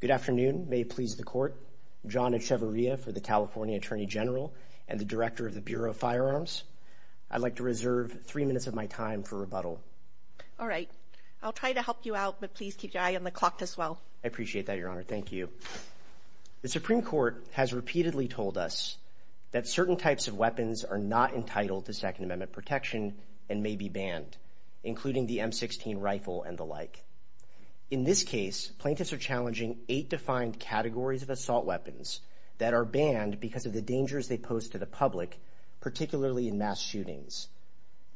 Good afternoon. May it please the court. John Echevarria for the California Attorney General and the Director of the Bureau of Firearms. I'd like to reserve three minutes of my time for rebuttal. All right. I'll try to help you out, but please keep your eye on the clock as well. I appreciate that, Your Honor. Thank you. The Supreme Court has repeatedly told us that certain types of weapons are not entitled to Second Amendment protection and may be banned, including the M-16 rifle and the like. In this case, plaintiffs are challenging eight defined categories of assault weapons that are banned because of the dangers they pose to the public, particularly in mass shootings.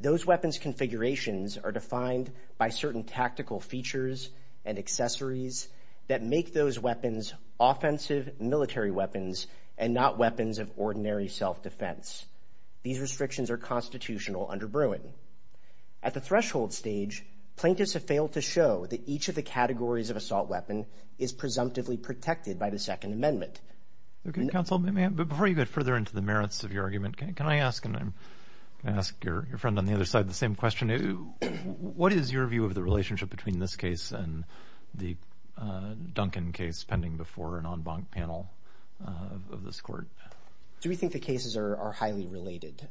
Those weapons configurations are defined by certain tactical features and accessories that make those weapons offensive military weapons and not weapons of ordinary self-defense. These restrictions are constitutional under Bruin. At the threshold stage, plaintiffs have failed to show that each of the categories of assault weapon is presumptively protected by the Second Amendment. Okay, counsel, before you get further into the merits of your argument, can I ask, and I'm gonna ask your friend on the other side the same question, what is your view of the relationship between this case and the of this court? Do we think the cases are highly related?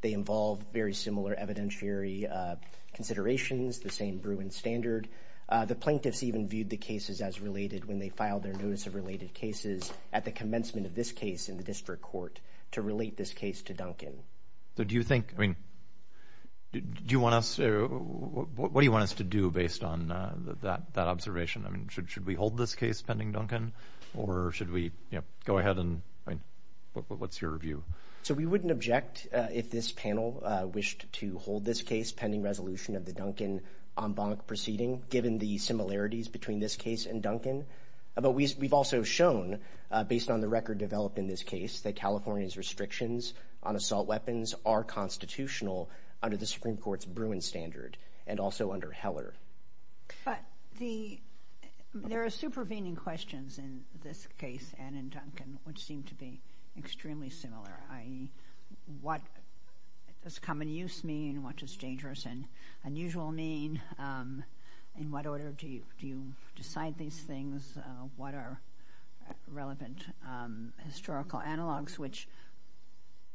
They involve very similar evidentiary considerations, the same Bruin standard. The plaintiffs even viewed the cases as related when they filed their notice of related cases at the commencement of this case in the district court to relate this case to Duncan. So do you think, I mean, do you want us, what do you want us to do based on that observation? I mean, should we hold this case pending Duncan or should we, go ahead and, what's your view? So we wouldn't object if this panel wished to hold this case pending resolution of the Duncan en banc proceeding given the similarities between this case and Duncan. But we've also shown, based on the record developed in this case, that California's restrictions on assault weapons are constitutional under the Supreme Court's Bruin standard and also under Heller. But the, there are supervening questions in this case and in Duncan which seem to be extremely similar, i.e. what does common use mean, what does dangerous and unusual mean, in what order do you decide these things, what are relevant historical analogs, which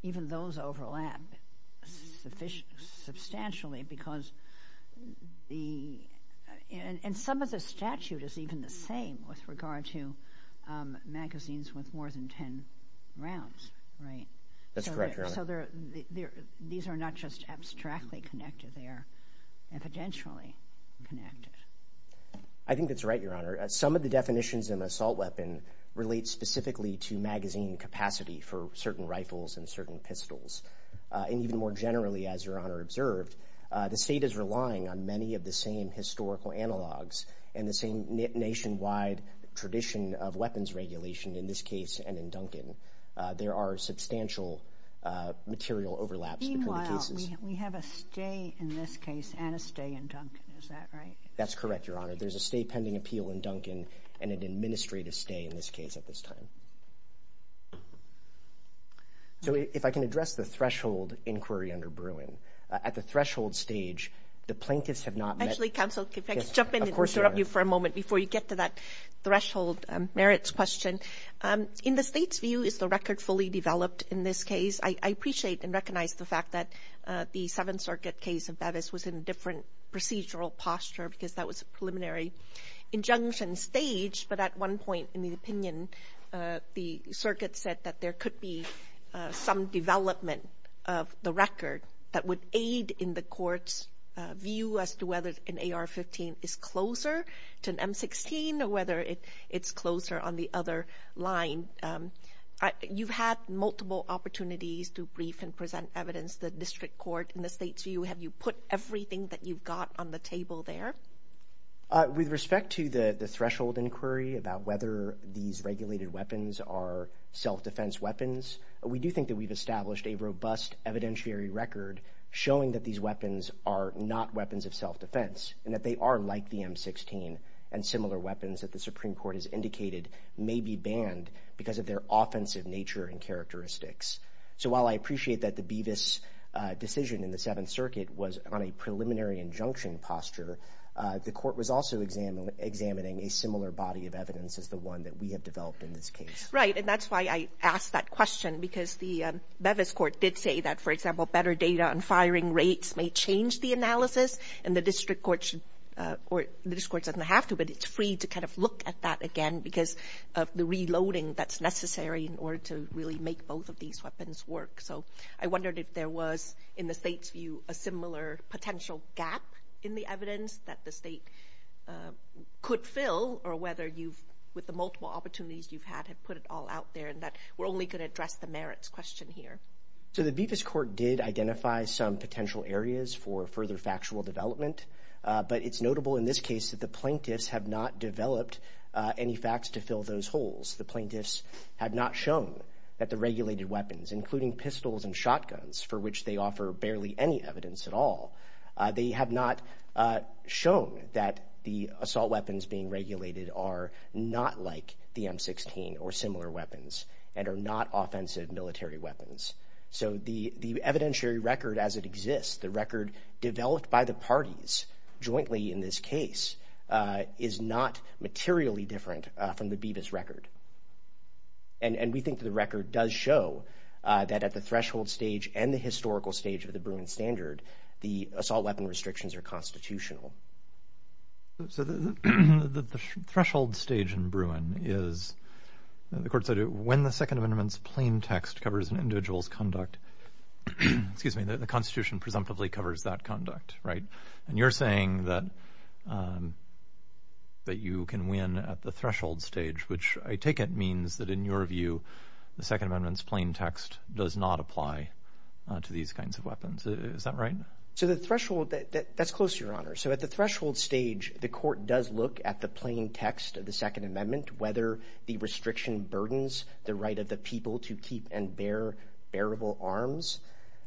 even those the, and some of the statute is even the same with regard to magazines with more than 10 rounds, right? That's correct, Your Honor. So there, these are not just abstractly connected, they are evidentially connected. I think that's right, Your Honor. Some of the definitions in assault weapon relate specifically to magazine capacity for certain rifles and certain pistols. And even more generally, as Your Honor observed, the state is relying on many of the same historical analogs and the same nationwide tradition of weapons regulation in this case and in Duncan. There are substantial material overlaps between the cases. Meanwhile, we have a stay in this case and a stay in Duncan, is that right? That's correct, Your Honor. There's a stay pending appeal in Duncan and an administrative stay in this case at this time. So if I can address the threshold inquiry under Bruin, at the threshold stage, the plaintiffs have not met. Actually, counsel, if I could jump in and interrupt you for a moment before you get to that threshold merits question. In the state's view, is the record fully developed in this case? I appreciate and recognize the fact that the Seventh Circuit case of Bevis was in a different procedural posture because that was a preliminary injunction stage, but at one point in the opinion, the circuit said that there could be some development of the record that would aid in the court's view as to whether an AR-15 is closer to an M-16 or whether it's closer on the other line. You've had multiple opportunities to brief and present evidence to the district court. In the state's view, have you put everything that you've got on the table there? With respect to the threshold inquiry about whether these regulated weapons are self-defense weapons, we do think that we've established a robust evidentiary record showing that these weapons are not weapons of self-defense and that they are like the M-16 and similar weapons that the Supreme Court has indicated may be banned because of their offensive nature and characteristics. So while I appreciate that the Bevis decision in the Seventh Circuit was based on a preliminary injunction posture, the court was also examining a similar body of evidence as the one that we have developed in this case. Right, and that's why I asked that question, because the Bevis court did say that, for example, better data on firing rates may change the analysis and the district court doesn't have to, but it's free to kind of look at that again because of the reloading that's necessary in order to really make both of these weapons work. So I wondered if there was, in the state's view, a similar potential gap in the evidence that the state could fill or whether you've, with the multiple opportunities you've had, have put it all out there and that we're only going to address the merits question here. So the Bevis court did identify some potential areas for further factual development, but it's notable in this case that the plaintiffs have not developed any facts to fill those holes. The plaintiffs have not shown that the evidence at all. They have not shown that the assault weapons being regulated are not like the M-16 or similar weapons and are not offensive military weapons. So the evidentiary record as it exists, the record developed by the parties jointly in this case, is not materially different from the Bevis record. And we think that the record does show that at the threshold stage and the historical stage of the Bruin standard, the assault weapon restrictions are constitutional. So the threshold stage in Bruin is, the court said, when the Second Amendment's plain text covers an individual's conduct, excuse me, the Constitution presumptively covers that conduct, right? And you're saying that you can win at the threshold stage, which I take it means that in your view, the Second Amendment's plain text does not apply to these kinds of weapons. Is that right? So the threshold, that's close, Your Honor. So at the threshold stage, the court does look at the plain text of the Second Amendment, whether the restriction burdens the right of the people to keep and bear bearable arms.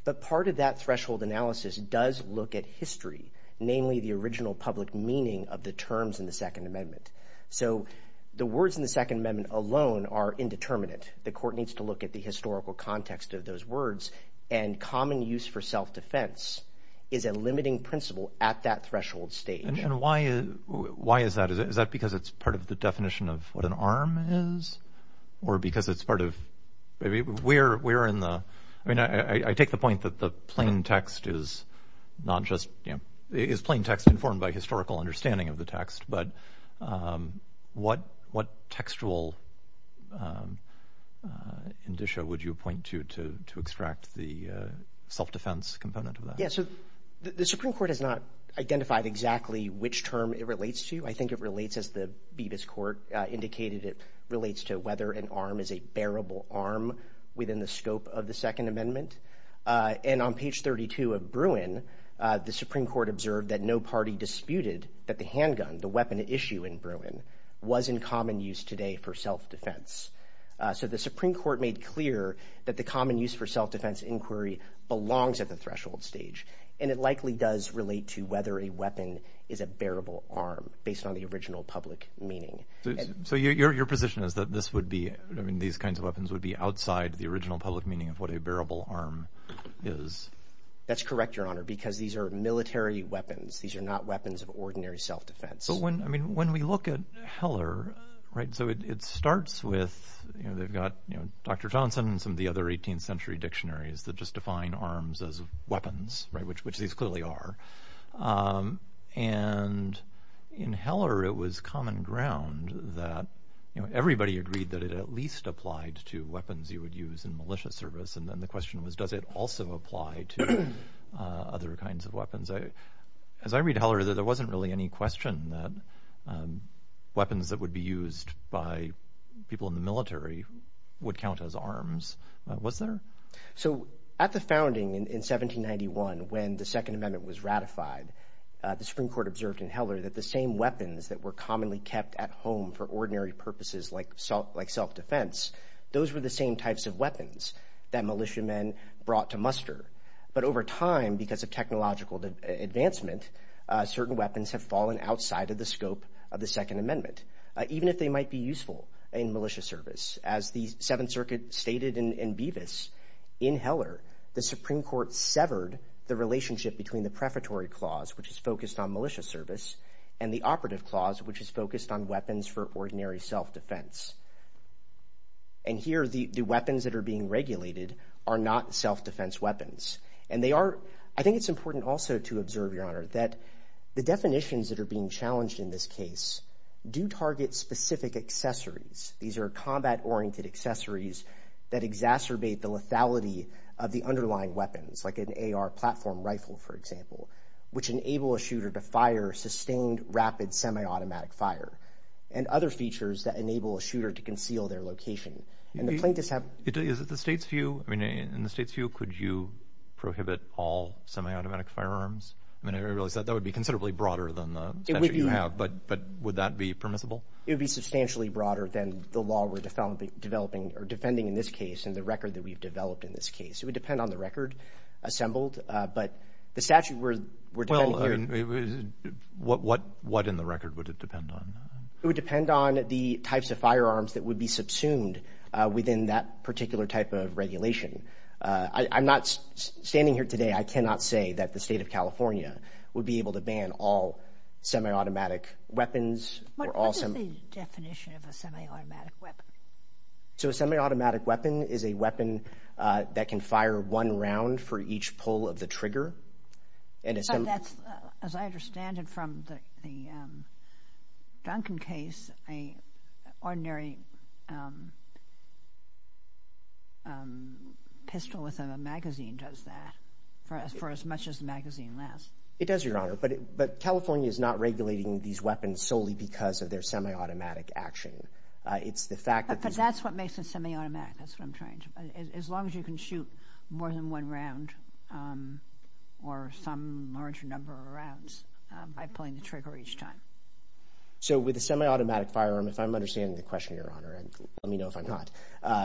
But part of that threshold analysis does look at history, namely the original public meaning of the terms in the Second Amendment. So the words in the Second Amendment alone are indeterminate. The court needs to look at the historical context of those words. And common use for self-defense is a limiting principle at that threshold stage. And why is that? Is that because it's part of the definition of what an arm is? Or because it's part of, we're in the, I mean, I take the point that the plain text is not just, you know, is plain text informed by historical understanding of the text. But what, what textual indicia would you point to, to extract the self-defense component of that? Yeah, so the Supreme Court has not identified exactly which term it relates to. I think it relates, as the Bevis Court indicated, it relates to whether an arm is a bearable arm within the scope of the Second Amendment. And on page 32 of Bruin, the Supreme Court observed that no party disputed that the handgun, the weapon at issue in Bruin, was in common use today for self-defense. So the Supreme Court made clear that the common use for self-defense inquiry belongs at the threshold stage. And it likely does relate to whether a weapon is a bearable arm based on the original public meaning. So your position is that this would be, I mean, these kinds of weapons would be outside the original public meaning of what a bearable arm is? That's correct, Your Honor, because these are military weapons. These are not weapons of ordinary self-defense. But when, I mean, when we look at Heller, right, so it starts with, you know, they've got, you know, Dr. Johnson and some of the other 18th Amendment, that, you know, everybody agreed that it at least applied to weapons you would use in militia service. And then the question was, does it also apply to other kinds of weapons? As I read Heller, there wasn't really any question that weapons that would be used by people in the military would count as arms. Was there? So at the founding in 1791, when the Second Amendment was ratified, the Supreme Court observed in Heller that the same weapons that were at home for ordinary purposes like self-defense, those were the same types of weapons that militiamen brought to muster. But over time, because of technological advancement, certain weapons have fallen outside of the scope of the Second Amendment, even if they might be useful in militia service. As the Seventh Circuit stated in Bevis, in Heller, the Supreme Court severed the relationship between the prefatory clause, which is focused on ordinary self-defense. And here, the weapons that are being regulated are not self-defense weapons. And they are, I think it's important also to observe, Your Honor, that the definitions that are being challenged in this case do target specific accessories. These are combat-oriented accessories that exacerbate the lethality of the underlying weapons, like an AR platform rifle, for example, which enable a shooter to fire sustained, rapid, semi-automatic fire, and other features that enable a shooter to conceal their location. And the plaintiffs have... Is it the state's view? I mean, in the state's view, could you prohibit all semi-automatic firearms? I mean, I realize that that would be considerably broader than the statute you have, but would that be permissible? It would be substantially broader than the law we're developing or defending in this case, and the record that we've developed in this case. It would depend on the types of firearms that would be subsumed within that particular type of regulation. I'm not standing here today, I cannot say that the state of California would be able to ban all semi-automatic weapons or all... What is the definition of a semi-automatic weapon? So, a semi-automatic weapon is a weapon that can fire one round for each pull of the trigger. As I understand it from the Duncan case, an ordinary pistol with a magazine does that, for as much as the magazine lasts. It does, Your Honor, but California is not regulating these weapons solely because of their semi-automatic action. It's the fact that... or some larger number of rounds by pulling the trigger each time. So, with a semi-automatic firearm, if I'm understanding the question, Your Honor, and let me know if I'm not,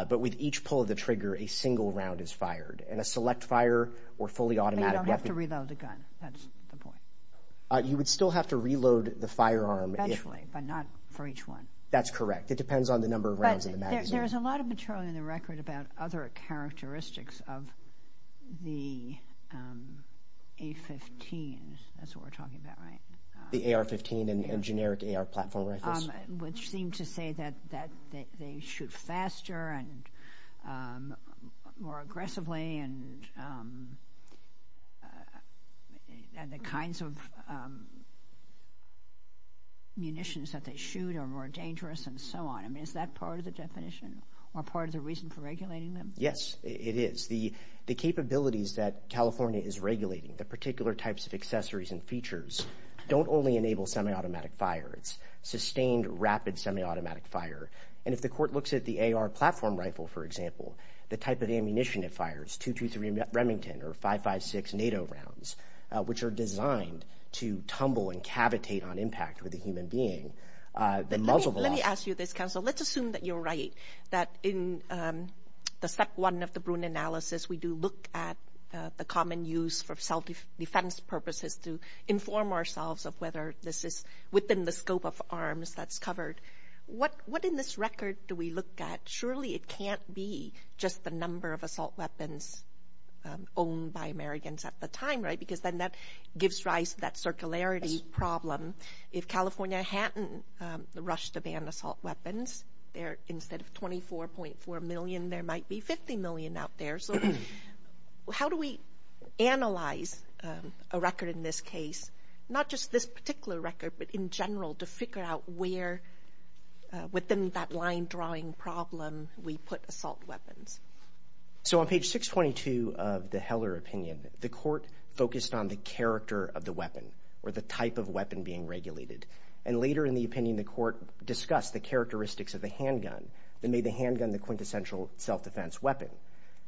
but with each pull of the trigger, a single round is fired, and a select fire or fully automatic weapon... But you don't have to reload the gun, that's the point. You would still have to reload the firearm if... Eventually, but not for each one. That's correct. It depends on the number of rounds in the magazine. There's a lot of material in the record about other characteristics of the A-15s. That's what we're talking about, right? The AR-15 and generic AR platform rifles. Which seem to say that they shoot faster and more aggressively and the kinds of munitions that they shoot are more dangerous and so on. I mean, is that part of the definition or part of the reason for regulating them? Yes, it is. The capabilities that California is regulating, the particular types of accessories and features, don't only enable semi-automatic fire. It's sustained, rapid semi-automatic fire. And if the court looks at the AR platform rifle, for example, the type of ammunition it fires, .223 Remington or .556 NATO rounds, which are designed to tumble and cavitate on impact with a human being... Let me ask you this, counsel. Let's assume that you're right, that in the step one of the Bruin analysis, we do look at the common use for self-defense purposes to inform ourselves of whether this is within the scope of arms that's covered. What in this record do we look at? Surely it can't be just the number of assault weapons owned by Americans at the time, right? Because then that gives rise to that circularity problem. If California hadn't rushed to ban assault weapons, instead of 24.4 million, there might be 50 million out there. So how do we analyze a record in this case, not just this particular record, but in general to figure out where within that line drawing problem we put assault weapons? So on page 622 of the Heller opinion, the court focused on the character of the weapon or the type of weapon being regulated. And later in the opinion, the court discussed the characteristics of the handgun that made the handgun the quintessential self-defense weapon.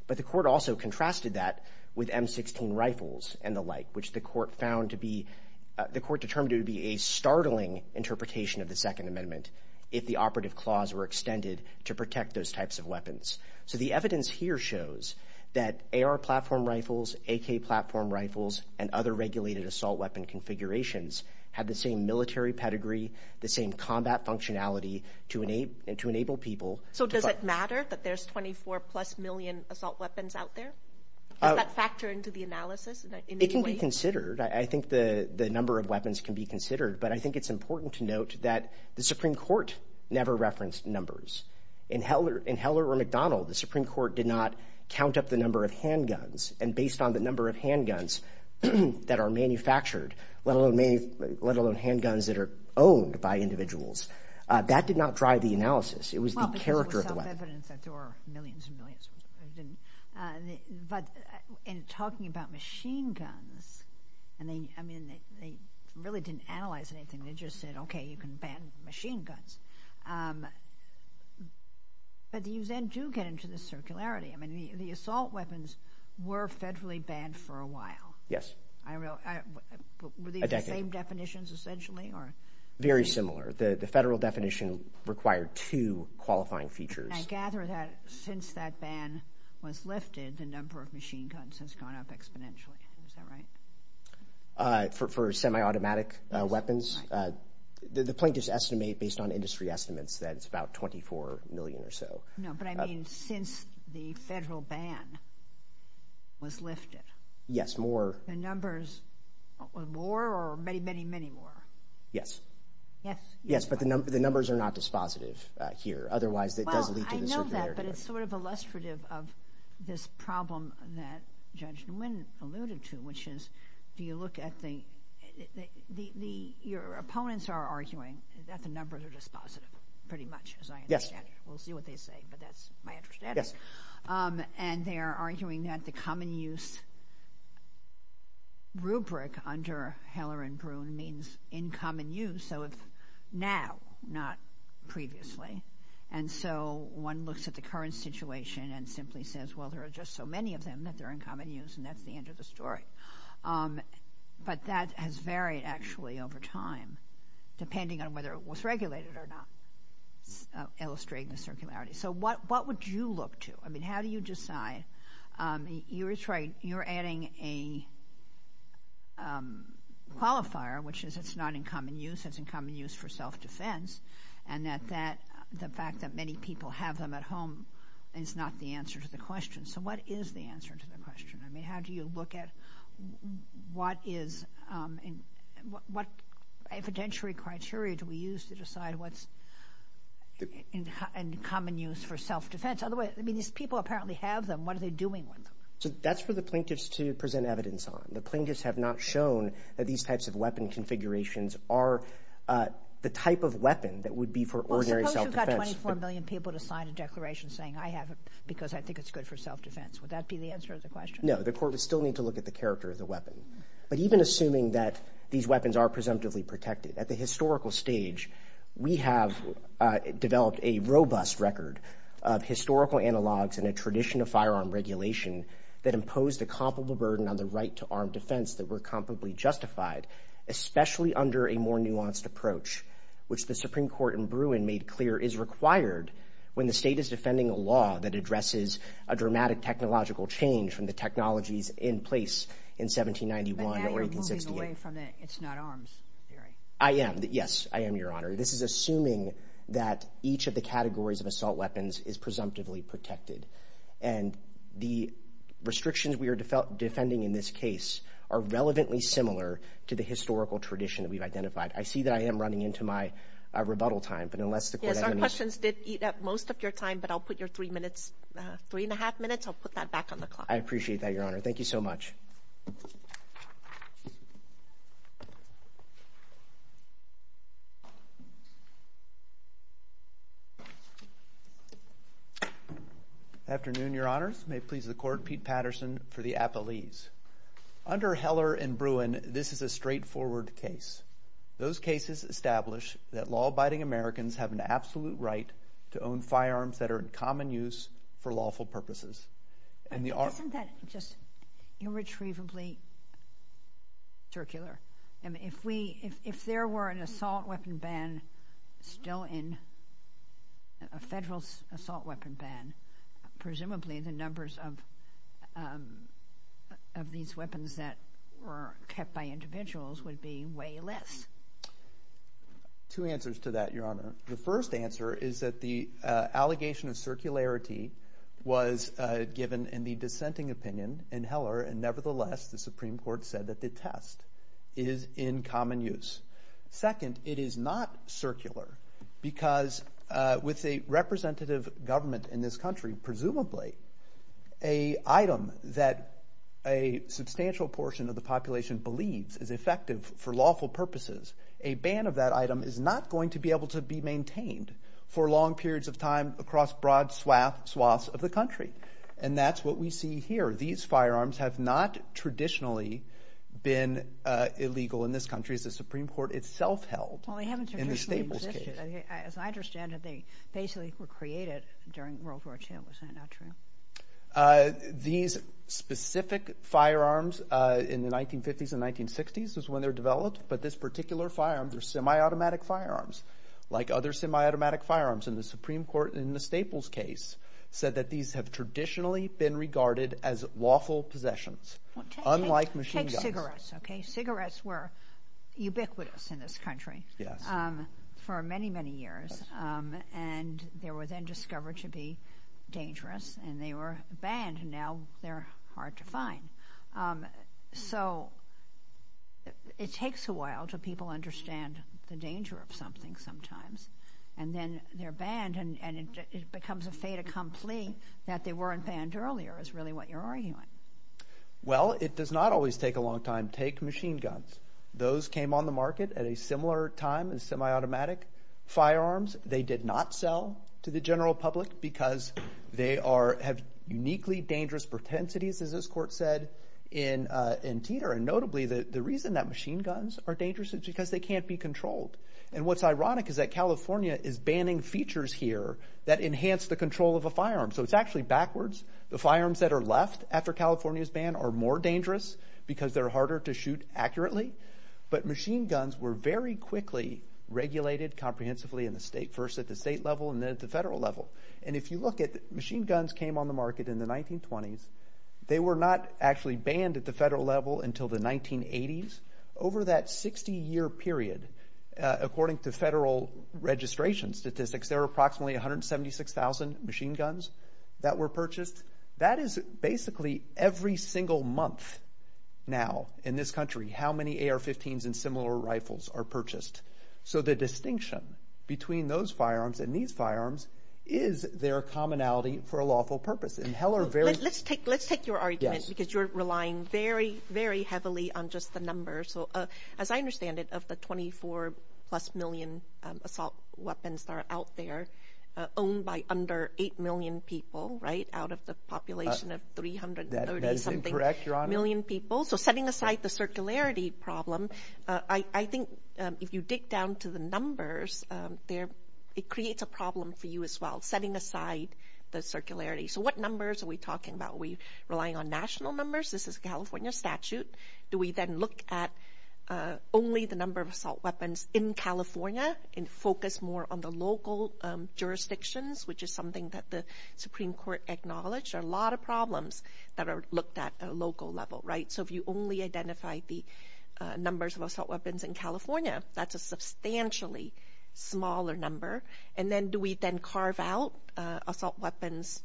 But the court also contrasted that with M-16 rifles and the like, which the court found to be – the court determined it would be a startling interpretation of the Second Amendment if the operative clause were extended to protect those types of weapons. So the evidence here shows that AR platform rifles, AK platform rifles, and other regulated assault weapon configurations have the same military pedigree, the same combat functionality to enable people – So does it matter that there's 24-plus million assault weapons out there? Does that factor into the analysis in any way? It can be considered. I think the number of weapons can be considered. But I think it's important to note that the Supreme Court never referenced numbers. In Heller or McDonald, the Supreme Court did not count up the number of handguns. And based on the number of handguns that are manufactured, let alone handguns that are owned by individuals, that did not drive the analysis. It was the character of the weapon. Well, because it was self-evident that there were millions and millions of them. But in talking about machine guns – and they – I mean, they really didn't analyze anything. They just said, OK, you can ban machine guns. But you then do get into the circularity. I mean, the assault weapons were federally banned for a while. Yes. I – were these the same definitions, essentially, or – Very similar. The federal definition required two qualifying features. And I gather that since that ban was lifted, the number of machine guns has gone up exponentially. Is that right? For semi-automatic weapons? That's right. The plaintiffs estimate, based on industry estimates, that it's about 24 million or so. No, but I mean, since the federal ban was lifted. Yes, more. The numbers – more or many, many, many more? Yes. Yes? Yes, but the numbers are not dispositive here. Otherwise, it does lead to the circularity. Well, I know that, but it's sort of illustrative of this problem that Judge Nguyen alluded to, which is, do you look at the – your opponents are arguing that the numbers are dispositive, pretty much, as I understand it. Yes. We'll see what they say, but that's my understanding. Yes. And they are arguing that the common-use rubric under Heller and Bruhn means in common use. So it's now, not previously. And so one looks at the current situation and simply says, well, there are just so many of them that they're in common use, and that's the end of the story. But that has varied, actually, over time, depending on whether it was regulated or not, illustrating the circularity. So what would you look to? I mean, how do you decide – you're adding a qualifier, which is it's not in common use, it's in common use for self-defense, and that the fact that many people have them at home is not the answer to the question. So what is the answer to the question? I mean, how do you look at what is – what evidentiary criteria do we use to decide what's in common use for self-defense? Otherwise, I mean, these people apparently have them. What are they doing with them? So that's for the plaintiffs to present evidence on. The plaintiffs have not shown that these types of weapon configurations are the type of weapon that would be for ordinary self-defense. Well, suppose you've got 24 million people to sign a declaration saying, I have it because I think it's good for self-defense. Would that be the answer to the question? No. The court would still need to look at the character of the weapon. But even assuming that these weapons are presumptively protected, at the historical stage, we have developed a robust record of historical analogs and a tradition of firearm regulation that impose the comparable burden on the right to armed defense that were comparably justified, especially under a more nuanced approach, which the Supreme Court in Bruin made clear is required when the state is defending a law that addresses a dramatic technological change from the technologies in place in 1791 or 1868. But now you're moving away from the it's not arms theory. I am. Yes, I am, Your Honor. This is assuming that each of the categories of assault weapons is presumptively protected. And the restrictions we are defending in this case are relevantly similar to the historical tradition that we've identified. I see that I am running into my rebuttal time. Yes, our questions did eat up most of your time, but I'll put your three minutes, three and a half minutes. I'll put that back on the clock. I appreciate that, Your Honor. Thank you so much. Afternoon, Your Honors. May it please the Court. Pete Patterson for the Appellees. Under Heller and Bruin, this is a straightforward case. Those cases establish that law-abiding Americans have an absolute right to own firearms that are in common use for lawful purposes. Isn't that just irretrievably circular? If there were an assault weapon ban still in, a federal assault weapon ban, presumably the numbers of these weapons that were kept by individuals would be way less. Two answers to that, Your Honor. The first answer is that the allegation of circularity was given in the dissenting opinion in Heller. And nevertheless, the Supreme Court said that the test is in common use. Second, it is not circular because with a representative government in this country, presumably, an item that a substantial portion of the population believes is effective for lawful purposes, a ban of that item is not going to be able to be maintained for long periods of time across broad swaths of the country. And that's what we see here. These firearms have not traditionally been illegal in this country as the Supreme Court itself held in the Staples case. Well, they haven't traditionally existed. As I understand it, they basically were created during World War II. Is that not true? These specific firearms in the 1950s and 1960s is when they were developed. But this particular firearm, they're semi-automatic firearms like other semi-automatic firearms. And the Supreme Court in the Staples case said that these have traditionally been regarded as lawful possessions, unlike machine guns. Take cigarettes, okay? Cigarettes were ubiquitous in this country for many, many years. And they were then discovered to be dangerous. And they were banned. And now they're hard to find. So it takes a while till people understand the danger of something sometimes. And then they're banned, and it becomes a fait accompli that they weren't banned earlier is really what you're arguing. Well, it does not always take a long time. Take machine guns. Those came on the market at a similar time as semi-automatic firearms. They did not sell to the general public because they have uniquely dangerous portentities, as this court said, in Teter. And notably, the reason that machine guns are dangerous is because they can't be controlled. And what's ironic is that California is banning features here that enhance the control of a firearm. So it's actually backwards. The firearms that are left after California's ban are more dangerous because they're harder to shoot accurately. But machine guns were very quickly regulated comprehensively in the state, first at the state level and then at the federal level. And if you look at it, machine guns came on the market in the 1920s. They were not actually banned at the federal level until the 1980s. Over that 60-year period, according to federal registration statistics, there were approximately 176,000 machine guns that were purchased. That is basically every single month now in this country how many AR-15s and similar rifles are purchased. So the distinction between those firearms and these firearms is their commonality for a lawful purpose. Let's take your argument because you're relying very, very heavily on just the numbers. As I understand it, of the 24-plus million assault weapons that are out there, owned by under 8 million people, right, out of the population of 330-something million people. So setting aside the circularity problem, I think if you dig down to the numbers, it creates a problem for you as well, setting aside the circularity. So what numbers are we talking about? Are we relying on national numbers? This is a California statute. Do we then look at only the number of assault weapons in California and focus more on the local jurisdictions, which is something that the Supreme Court acknowledged? There are a lot of problems that are looked at at a local level, right? So if you only identify the numbers of assault weapons in California, that's a substantially smaller number. And then do we then carve out assault weapons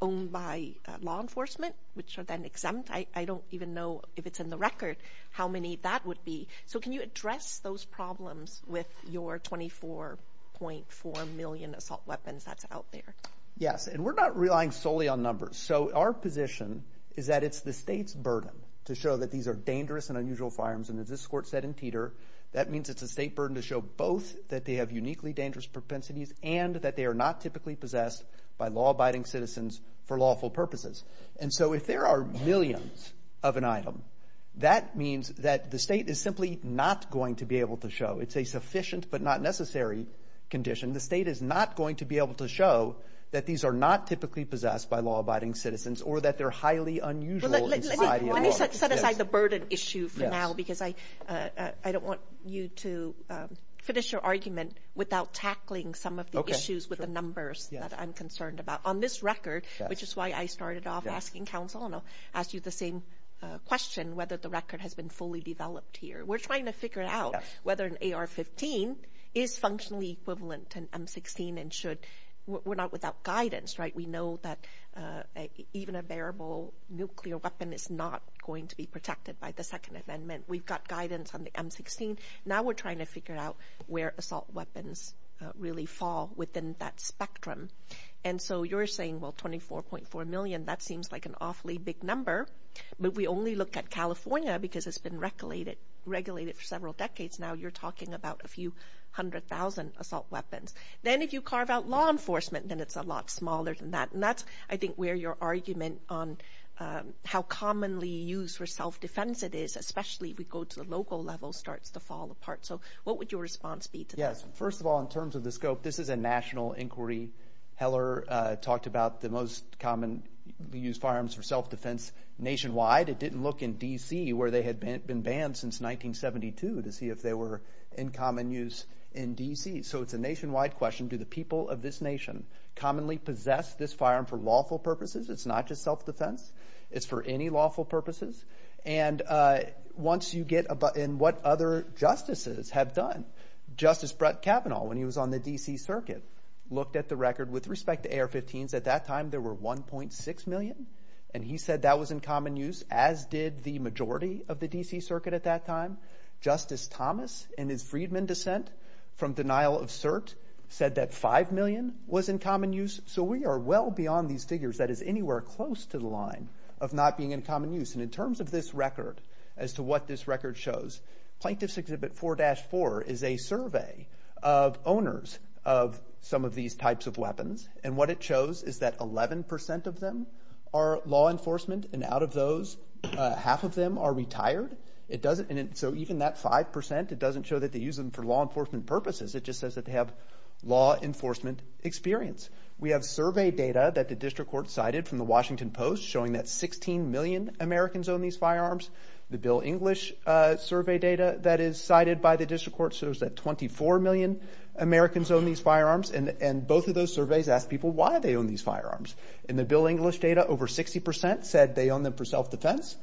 owned by law enforcement, which are then exempt? I don't even know, if it's in the record, how many that would be. So can you address those problems with your 24.4 million assault weapons that's out there? Yes, and we're not relying solely on numbers. So our position is that it's the state's burden to show that these are dangerous and unusual firearms. And as this court said in Teeter, that means it's a state burden to show both that they have uniquely dangerous propensities and that they are not typically possessed by law-abiding citizens for lawful purposes. And so if there are millions of an item, that means that the state is simply not going to be able to show. It's a sufficient but not necessary condition. The state is not going to be able to show that these are not typically possessed by law-abiding citizens or that they're highly unusual in society at large. Let me set aside the burden issue for now because I don't want you to finish your argument without tackling some of the issues with the numbers that I'm concerned about. On this record, which is why I started off asking counsel and I'll ask you the same question, whether the record has been fully developed here. We're trying to figure out whether an AR-15 is functionally equivalent to an M-16 and should. We're not without guidance, right? We know that even a bearable nuclear weapon is not going to be protected by the Second Amendment. We've got guidance on the M-16. Now we're trying to figure out where assault weapons really fall within that spectrum. And so you're saying, well, 24.4 million, that seems like an awfully big number, but we only look at California because it's been regulated for several decades. Now you're talking about a few hundred thousand assault weapons. Then if you carve out law enforcement, then it's a lot smaller than that. And that's, I think, where your argument on how commonly used for self-defense it is, especially if we go to the local level, starts to fall apart. So what would your response be to that? First of all, in terms of the scope, this is a national inquiry. Heller talked about the most commonly used firearms for self-defense nationwide. It didn't look in D.C. where they had been banned since 1972 to see if they were in common use in D.C. So it's a nationwide question. Do the people of this nation commonly possess this firearm for lawful purposes? It's not just self-defense. It's for any lawful purposes. And what other justices have done? Justice Brett Kavanaugh, when he was on the D.C. Circuit, looked at the record with respect to AR-15s. At that time there were 1.6 million, and he said that was in common use, as did the majority of the D.C. Circuit at that time. Justice Thomas, in his Freedman dissent from denial of cert, said that 5 million was in common use. So we are well beyond these figures. That is anywhere close to the line of not being in common use. And in terms of this record, as to what this record shows, Plaintiffs' Exhibit 4-4 is a survey of owners of some of these types of weapons, and what it shows is that 11 percent of them are law enforcement, and out of those, half of them are retired. So even that 5 percent, it doesn't show that they use them for law enforcement purposes. It just says that they have law enforcement experience. We have survey data that the district court cited from the Washington Post showing that 16 million Americans own these firearms. The Bill English survey data that is cited by the district court shows that 24 million Americans own these firearms, and both of those surveys ask people why they own these firearms. In the Bill English data, over 60 percent said they own them for self-defense.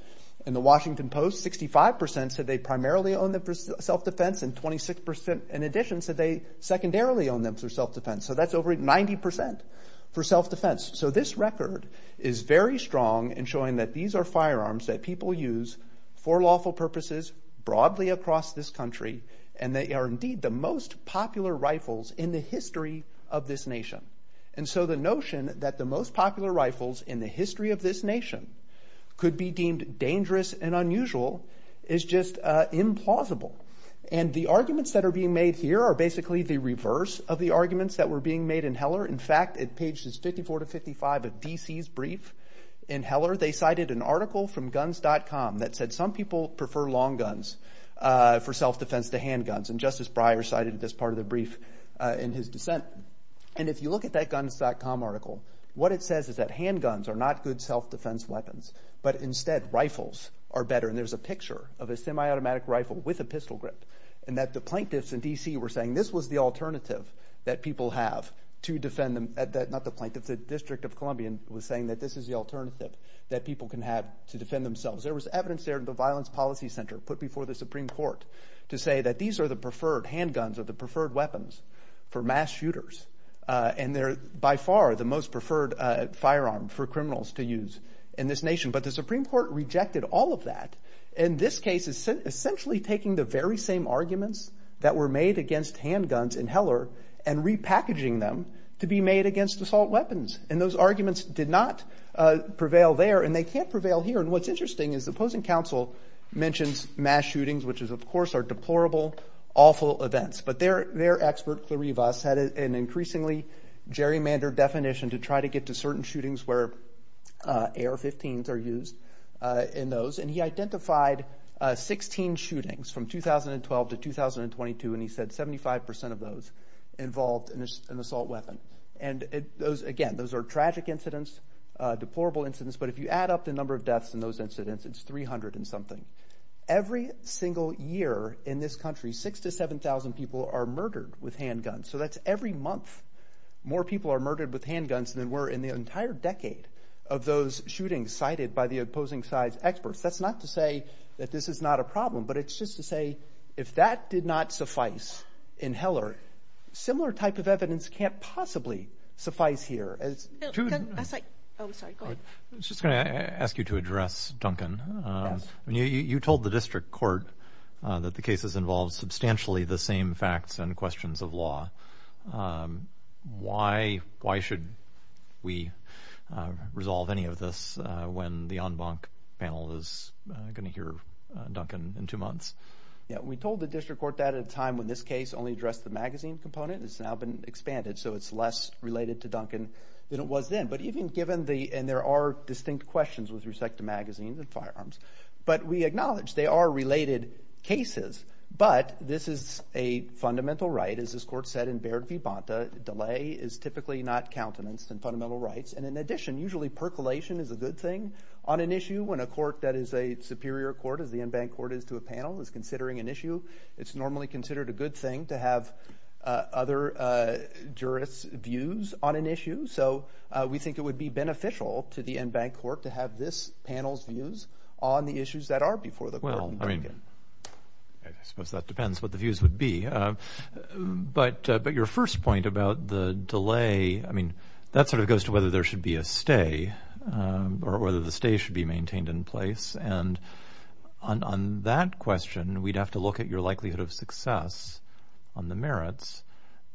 In the Washington Post, 65 percent said they primarily own them for self-defense, and 26 percent, in addition, said they secondarily own them for self-defense. So that's over 90 percent for self-defense. So this record is very strong in showing that these are firearms that people use for lawful purposes broadly across this country, and they are indeed the most popular rifles in the history of this nation. And so the notion that the most popular rifles in the history of this nation could be deemed dangerous and unusual is just implausible. And the arguments that are being made here are basically the reverse of the arguments that were being made in Heller. In fact, at pages 54 to 55 of D.C.'s brief in Heller, they cited an article from Guns.com that said some people prefer long guns for self-defense to handguns, and Justice Breyer cited this part of the brief in his dissent. And if you look at that Guns.com article, what it says is that handguns are not good self-defense weapons, but instead rifles are better. And there's a picture of a semi-automatic rifle with a pistol grip, and that the plaintiffs in D.C. were saying this was the alternative that people have to defend them. Not the plaintiffs, the District of Columbia was saying that this is the alternative that people can have to defend themselves. There was evidence there at the Violence Policy Center put before the Supreme Court to say that these are the preferred handguns or the preferred weapons for mass shooters, and they're by far the most preferred firearm for criminals to use in this nation. But the Supreme Court rejected all of that. In this case, essentially taking the very same arguments that were made against handguns in Heller and repackaging them to be made against assault weapons. And those arguments did not prevail there, and they can't prevail here. And what's interesting is the opposing counsel mentions mass shootings, which of course are deplorable, awful events. But their expert, Clarivas, had an increasingly gerrymandered definition to try to get to certain shootings where AR-15s are used in those, and he identified 16 shootings from 2012 to 2022, and he said 75% of those involved an assault weapon. And again, those are tragic incidents, deplorable incidents, but if you add up the number of deaths in those incidents, it's 300 and something. Every single year in this country, 6,000 to 7,000 people are murdered with handguns. So that's every month more people are murdered with handguns than were in the entire decade of those shootings cited by the opposing side's experts. That's not to say that this is not a problem, but it's just to say if that did not suffice in Heller, similar type of evidence can't possibly suffice here. I was just going to ask you to address Duncan. Yes. You told the district court that the cases involved substantially the same facts and questions of law. Why should we resolve any of this when the en banc panel is going to hear Duncan in two months? We told the district court that at a time when this case only addressed the magazine component. It's now been expanded, so it's less related to Duncan than it was then. And there are distinct questions with respect to magazines and firearms. But we acknowledge they are related cases. But this is a fundamental right. As this court said in Baird v. Bonta, delay is typically not countenance in fundamental rights. And in addition, usually percolation is a good thing on an issue when a court that is a superior court, as the en banc court is to a panel, is considering an issue. It's normally considered a good thing to have other jurists' views on an issue. So we think it would be beneficial to the en banc court to have this panel's views on the issues that are before the court. Well, I mean, I suppose that depends what the views would be. But your first point about the delay, I mean, that sort of goes to whether there should be a stay or whether the stay should be maintained in place. And on that question, we'd have to look at your likelihood of success on the merits.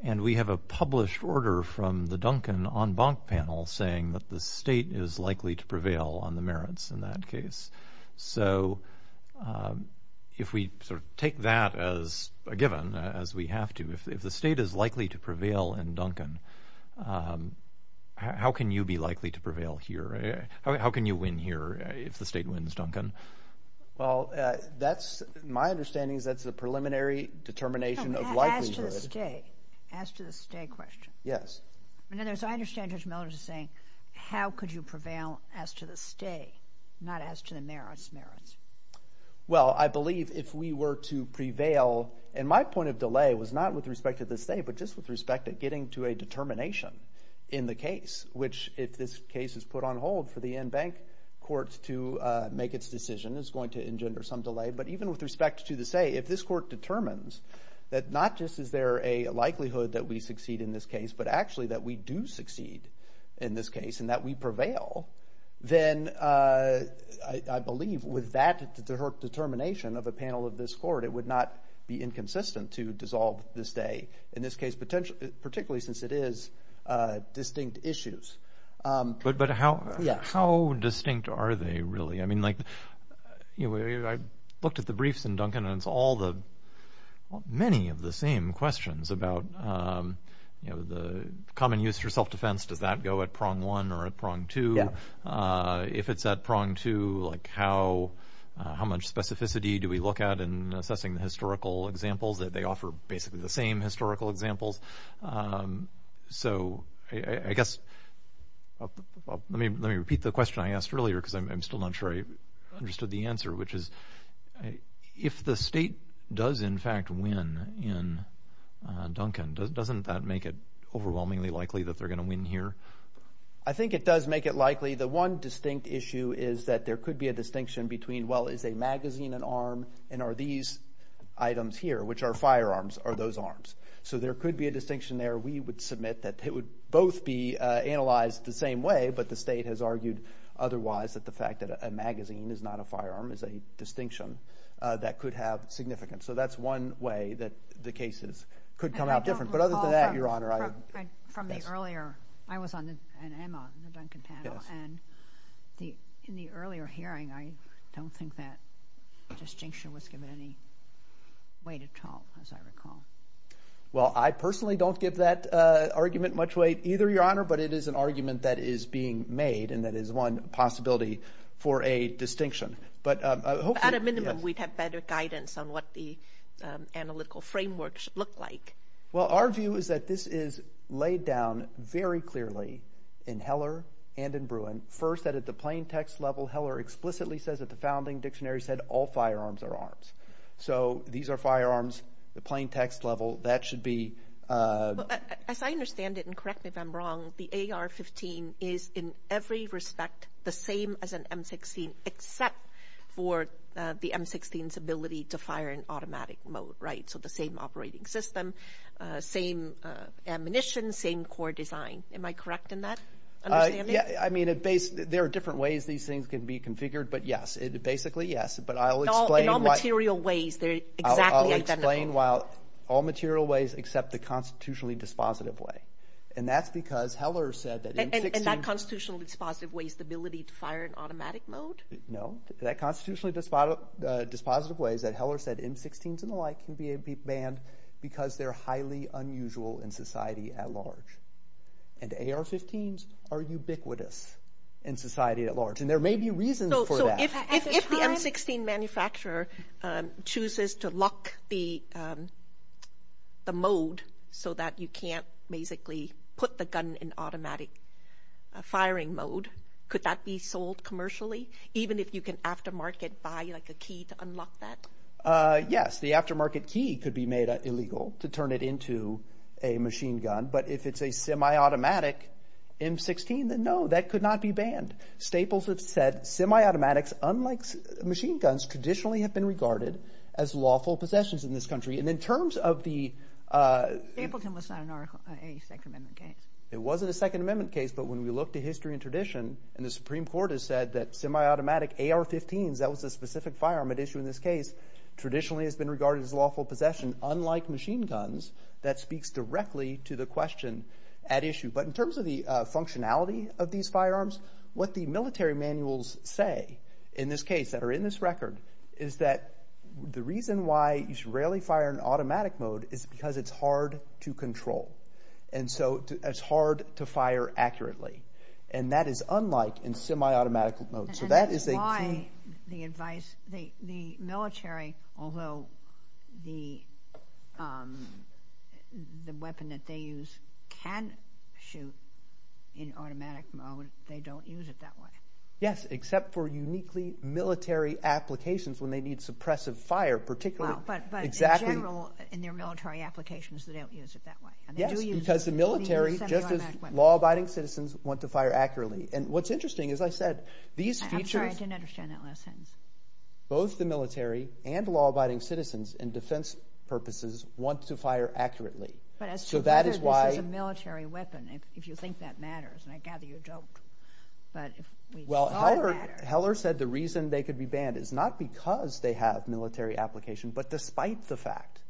And we have a published order from the Duncan en banc panel saying that the state is likely to prevail on the merits in that case. So if we sort of take that as a given, as we have to, if the state is likely to prevail in Duncan, how can you be likely to prevail here? How can you win here if the state wins Duncan? Well, that's my understanding is that's a preliminary determination of likelihood. As to the stay, as to the stay question. Yes. In other words, I understand Judge Miller is saying how could you prevail as to the stay, not as to the merits, merits. Well, I believe if we were to prevail, and my point of delay was not with respect to the stay, but just with respect to getting to a determination in the case, which if this case is put on hold for the en banc court to make its decision is going to engender some delay. But even with respect to the stay, if this court determines that not just is there a likelihood that we succeed in this case, but actually that we do succeed in this case and that we prevail, then I believe with that determination of a panel of this court, it would not be inconsistent to dissolve the stay in this case, particularly since it is distinct issues. But how distinct are they really? I mean like I looked at the briefs in Duncan and it's all the many of the same questions about the common use for self-defense. Does that go at prong one or at prong two? If it's at prong two, like how much specificity do we look at in assessing the historical examples that they offer basically the same historical examples? So I guess let me repeat the question I asked earlier because I'm still not sure I understood the answer, which is if the state does in fact win in Duncan, doesn't that make it overwhelmingly likely that they're going to win here? I think it does make it likely. The one distinct issue is that there could be a distinction between well is a magazine an arm and are these items here, which are firearms, are those arms? So there could be a distinction there. We would submit that it would both be analyzed the same way, but the state has argued otherwise that the fact that a magazine is not a firearm is a distinction that could have significance. So that's one way that the cases could come out different. But other than that, Your Honor. From the earlier, I was on the panel and in the earlier hearing, I don't think that distinction was given any weight at all, as I recall. Well, I personally don't give that argument much weight either, Your Honor, but it is an argument that is being made and that is one possibility for a distinction. At a minimum, we'd have better guidance on what the analytical framework should look like. Well, our view is that this is laid down very clearly in Heller and in Bruin. First, that at the plain text level, Heller explicitly says that the founding dictionary said all firearms are arms. So these are firearms, the plain text level, that should be. As I understand it, and correct me if I'm wrong, the AR-15 is in every respect the same as an M-16, except for the M-16's ability to fire in automatic mode, right? So the same operating system, same ammunition, same core design. Am I correct in that understanding? I mean, there are different ways these things can be configured, but yes, basically, yes. But I'll explain why. In all material ways, they're exactly identical. I'll explain why all material ways except the constitutionally dispositive way. And that's because Heller said that M-16. And that constitutionally dispositive way is the ability to fire in automatic mode? No. That constitutionally dispositive way is that Heller said M-16s and the like can be banned because they're highly unusual in society at large. And AR-15s are ubiquitous in society at large. And there may be reasons for that. So if the M-16 manufacturer chooses to lock the mode so that you can't basically put the gun in automatic firing mode, could that be sold commercially, even if you can aftermarket buy like a key to unlock that? Yes, the aftermarket key could be made illegal to turn it into a machine gun. But if it's a semi-automatic M-16, then no, that could not be banned. Staples has said semi-automatics, unlike machine guns, traditionally have been regarded as lawful possessions in this country. And in terms of the – Stapleton was not a Second Amendment case. It wasn't a Second Amendment case, but when we look to history and tradition and the Supreme Court has said that semi-automatic AR-15s, that was a specific firearm at issue in this case, traditionally has been regarded as lawful possession, unlike machine guns. That speaks directly to the question at issue. But in terms of the functionality of these firearms, what the military manuals say in this case that are in this record is that the reason why you should rarely fire in automatic mode is because it's hard to control. And so it's hard to fire accurately. And that is unlike in semi-automatic mode. So that is a key – And that's why the advice – the military, although the weapon that they use can shoot in automatic mode, they don't use it that way. Yes, except for uniquely military applications when they need suppressive fire, particularly – But in general, in their military applications, they don't use it that way. Yes, because the military, just as law-abiding citizens, want to fire accurately. And what's interesting, as I said, these features – I'm sorry. I didn't understand that last sentence. Both the military and law-abiding citizens in defense purposes want to fire accurately. But as to the – So that is why – This is a military weapon if you think that matters. And I gather you don't. But if we thought that – Well, Heller said the reason they could be banned is not because they have military application, but despite the fact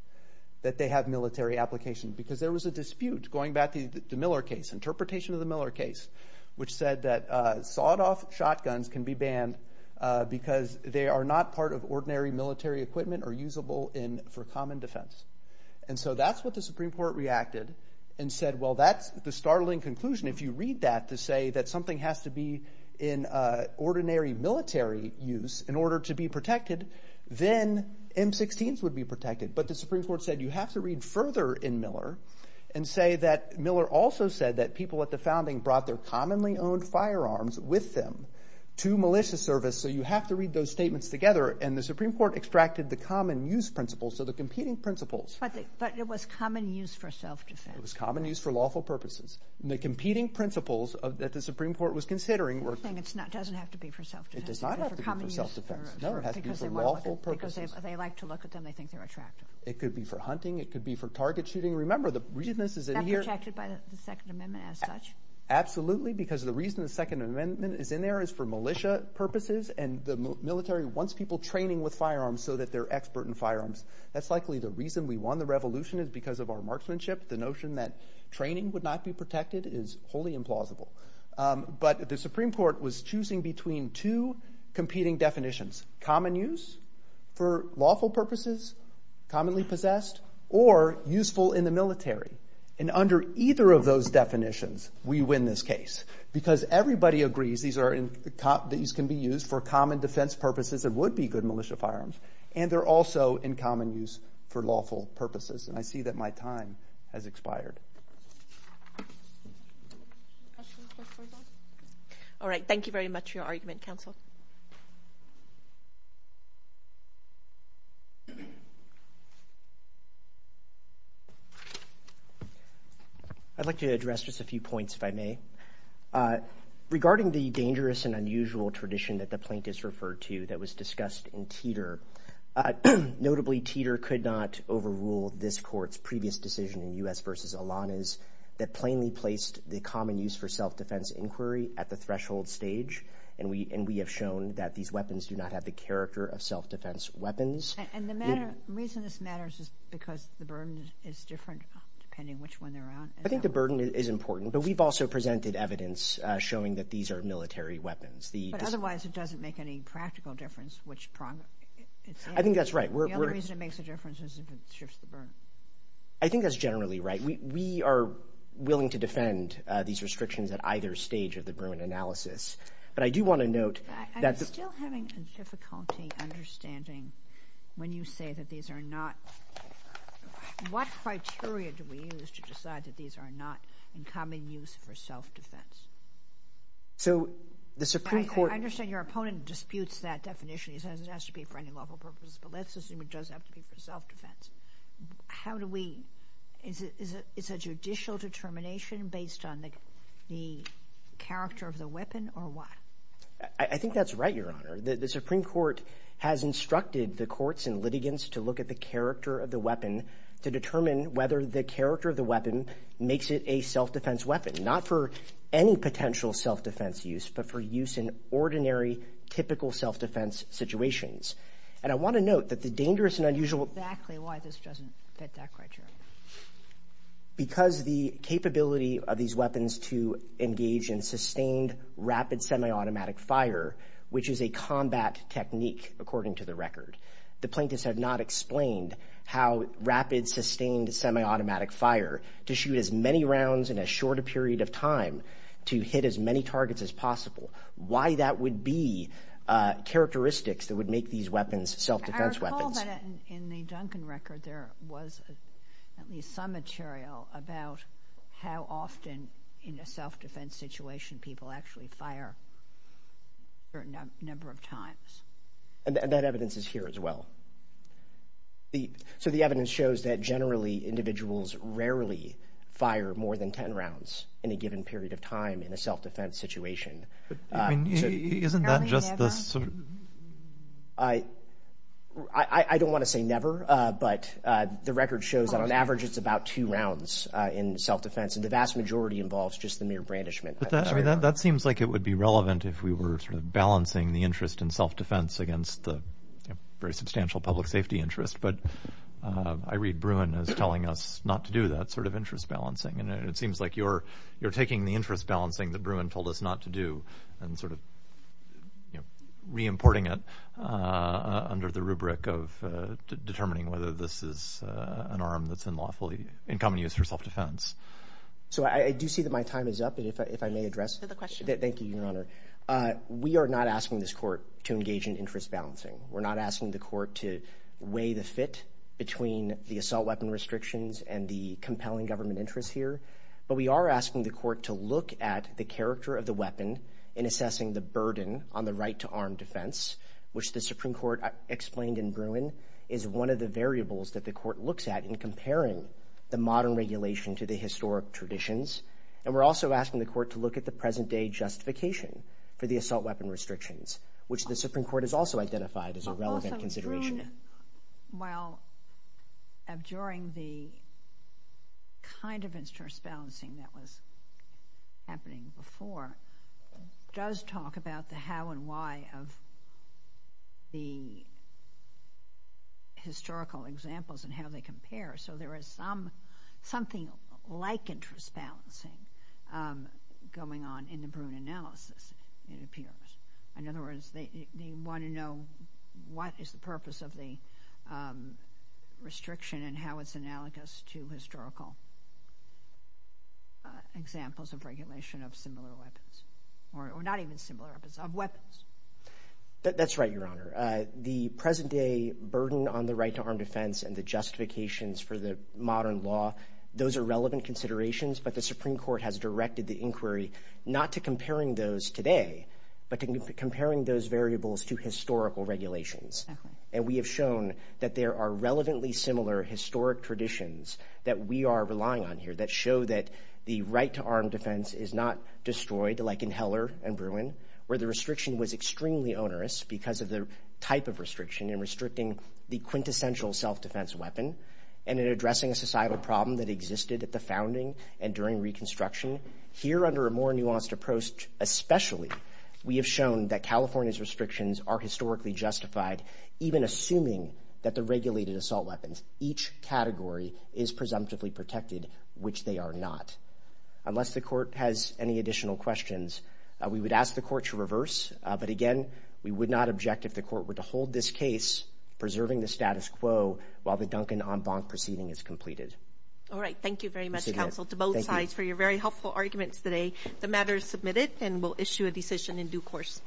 that they have military application because there was a dispute going back to the Miller case, interpretation of the Miller case, which said that sawed-off shotguns can be banned because they are not part of ordinary military equipment or usable for common defense. And so that's what the Supreme Court reacted and said, well, that's the startling conclusion. If you read that to say that something has to be in ordinary military use in order to be protected, then M-16s would be protected. But the Supreme Court said you have to read further in Miller and say that Miller also said that people at the founding brought their commonly-owned firearms with them to militia service, so you have to read those statements together. And the Supreme Court extracted the common-use principles, so the competing principles – But it was common use for self-defense. It was common use for lawful purposes. And the competing principles that the Supreme Court was considering were – It doesn't have to be for self-defense. No, it has to be for lawful purposes. Because they like to look at them. They think they're attractive. It could be for hunting. It could be for target shooting. Remember, the reason this is in here – Not protected by the Second Amendment as such? Absolutely, because the reason the Second Amendment is in there is for militia purposes, and the military wants people training with firearms so that they're expert in firearms. That's likely the reason we won the revolution is because of our marksmanship. The notion that training would not be protected is wholly implausible. But the Supreme Court was choosing between two competing definitions – for lawful purposes, commonly possessed, or useful in the military. And under either of those definitions, we win this case. Because everybody agrees these are – these can be used for common defense purposes and would be good militia firearms. And they're also in common use for lawful purposes. And I see that my time has expired. All right. Thank you very much for your argument, counsel. Thank you. I'd like to address just a few points, if I may. Regarding the dangerous and unusual tradition that the plaintiffs referred to that was discussed in Teeter – notably, Teeter could not overrule this Court's previous decision in U.S. v. Alanis that plainly placed the common use for self-defense inquiry at the threshold stage. And we have shown that these weapons do not have the character of self-defense weapons. And the reason this matters is because the burden is different, depending which one they're on. I think the burden is important. But we've also presented evidence showing that these are military weapons. But otherwise, it doesn't make any practical difference which – I think that's right. The only reason it makes a difference is if it shifts the burden. I think that's generally right. We are willing to defend these restrictions at either stage of the Berman analysis. But I do want to note that the – I'm still having difficulty understanding when you say that these are not – what criteria do we use to decide that these are not in common use for self-defense? So the Supreme Court – I understand your opponent disputes that definition. He says it has to be for any lawful purpose. But let's assume it does have to be for self-defense. How do we – is it a judicial determination based on the character of the weapon or what? I think that's right, Your Honor. The Supreme Court has instructed the courts and litigants to look at the character of the weapon to determine whether the character of the weapon makes it a self-defense weapon, not for any potential self-defense use, but for use in ordinary, typical self-defense situations. And I want to note that the dangerous and unusual – Exactly why this doesn't fit that criteria. Because the capability of these weapons to engage in sustained rapid semiautomatic fire, which is a combat technique, according to the record, the plaintiffs have not explained how rapid, sustained semiautomatic fire to shoot as many rounds in a shorter period of time to hit as many targets as possible, why that would be characteristics that would make these weapons self-defense weapons. I know that in the Duncan record there was at least some material about how often in a self-defense situation people actually fire a certain number of times. And that evidence is here as well. So the evidence shows that generally individuals rarely fire more than 10 rounds in a given period of time in a self-defense situation. Isn't that just the sort of – I don't want to say never, but the record shows that on average it's about two rounds in self-defense, and the vast majority involves just the mere brandishment. But that seems like it would be relevant if we were sort of balancing the interest in self-defense against the very substantial public safety interest. But I read Bruin as telling us not to do that sort of interest balancing, and it seems like you're taking the interest balancing that Bruin told us not to do and sort of reimporting it under the rubric of determining whether this is an arm that's in common use for self-defense. So I do see that my time is up, and if I may address it. Go to the question. Thank you, Your Honor. We are not asking this court to engage in interest balancing. We're not asking the court to weigh the fit between the assault weapon restrictions and the compelling government interest here. But we are asking the court to look at the character of the weapon in assessing the burden on the right-to-arm defense, which the Supreme Court explained in Bruin is one of the variables that the court looks at in comparing the modern regulation to the historic traditions. And we're also asking the court to look at the present-day justification for the assault weapon restrictions, which the Supreme Court has also identified as a relevant consideration. Well, during the kind of interest balancing that was happening before, does talk about the how and why of the historical examples and how they compare. So there is something like interest balancing going on in the Bruin analysis, it appears. In other words, they want to know what is the purpose of the restriction and how it's analogous to historical examples of regulation of similar weapons, or not even similar weapons, of weapons. That's right, Your Honor. The present-day burden on the right-to-arm defense and the justifications for the modern law, those are relevant considerations, but the Supreme Court has directed the inquiry not to comparing those today, but to comparing those variables to historical regulations. And we have shown that there are relevantly similar historic traditions that we are relying on here that show that the right-to-arm defense is not destroyed, like in Heller and Bruin, where the restriction was extremely onerous because of the type of restriction in restricting the quintessential self-defense weapon and in addressing a societal problem that existed at the founding and during Reconstruction. Here, under a more nuanced approach especially, we have shown that California's restrictions are historically justified, even assuming that the regulated assault weapons, each category, is presumptively protected, which they are not. Unless the Court has any additional questions, we would ask the Court to reverse, but again, we would not object if the Court were to hold this case, preserving the status quo, while the Duncan en banc proceeding is completed. All right. Thank you very much, Counsel, to both sides for your very helpful arguments today. The matter is submitted, and we'll issue a decision in due course.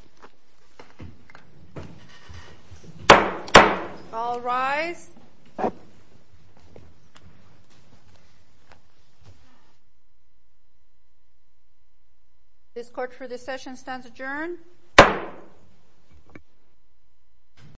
All rise. This Court for this session stands adjourned.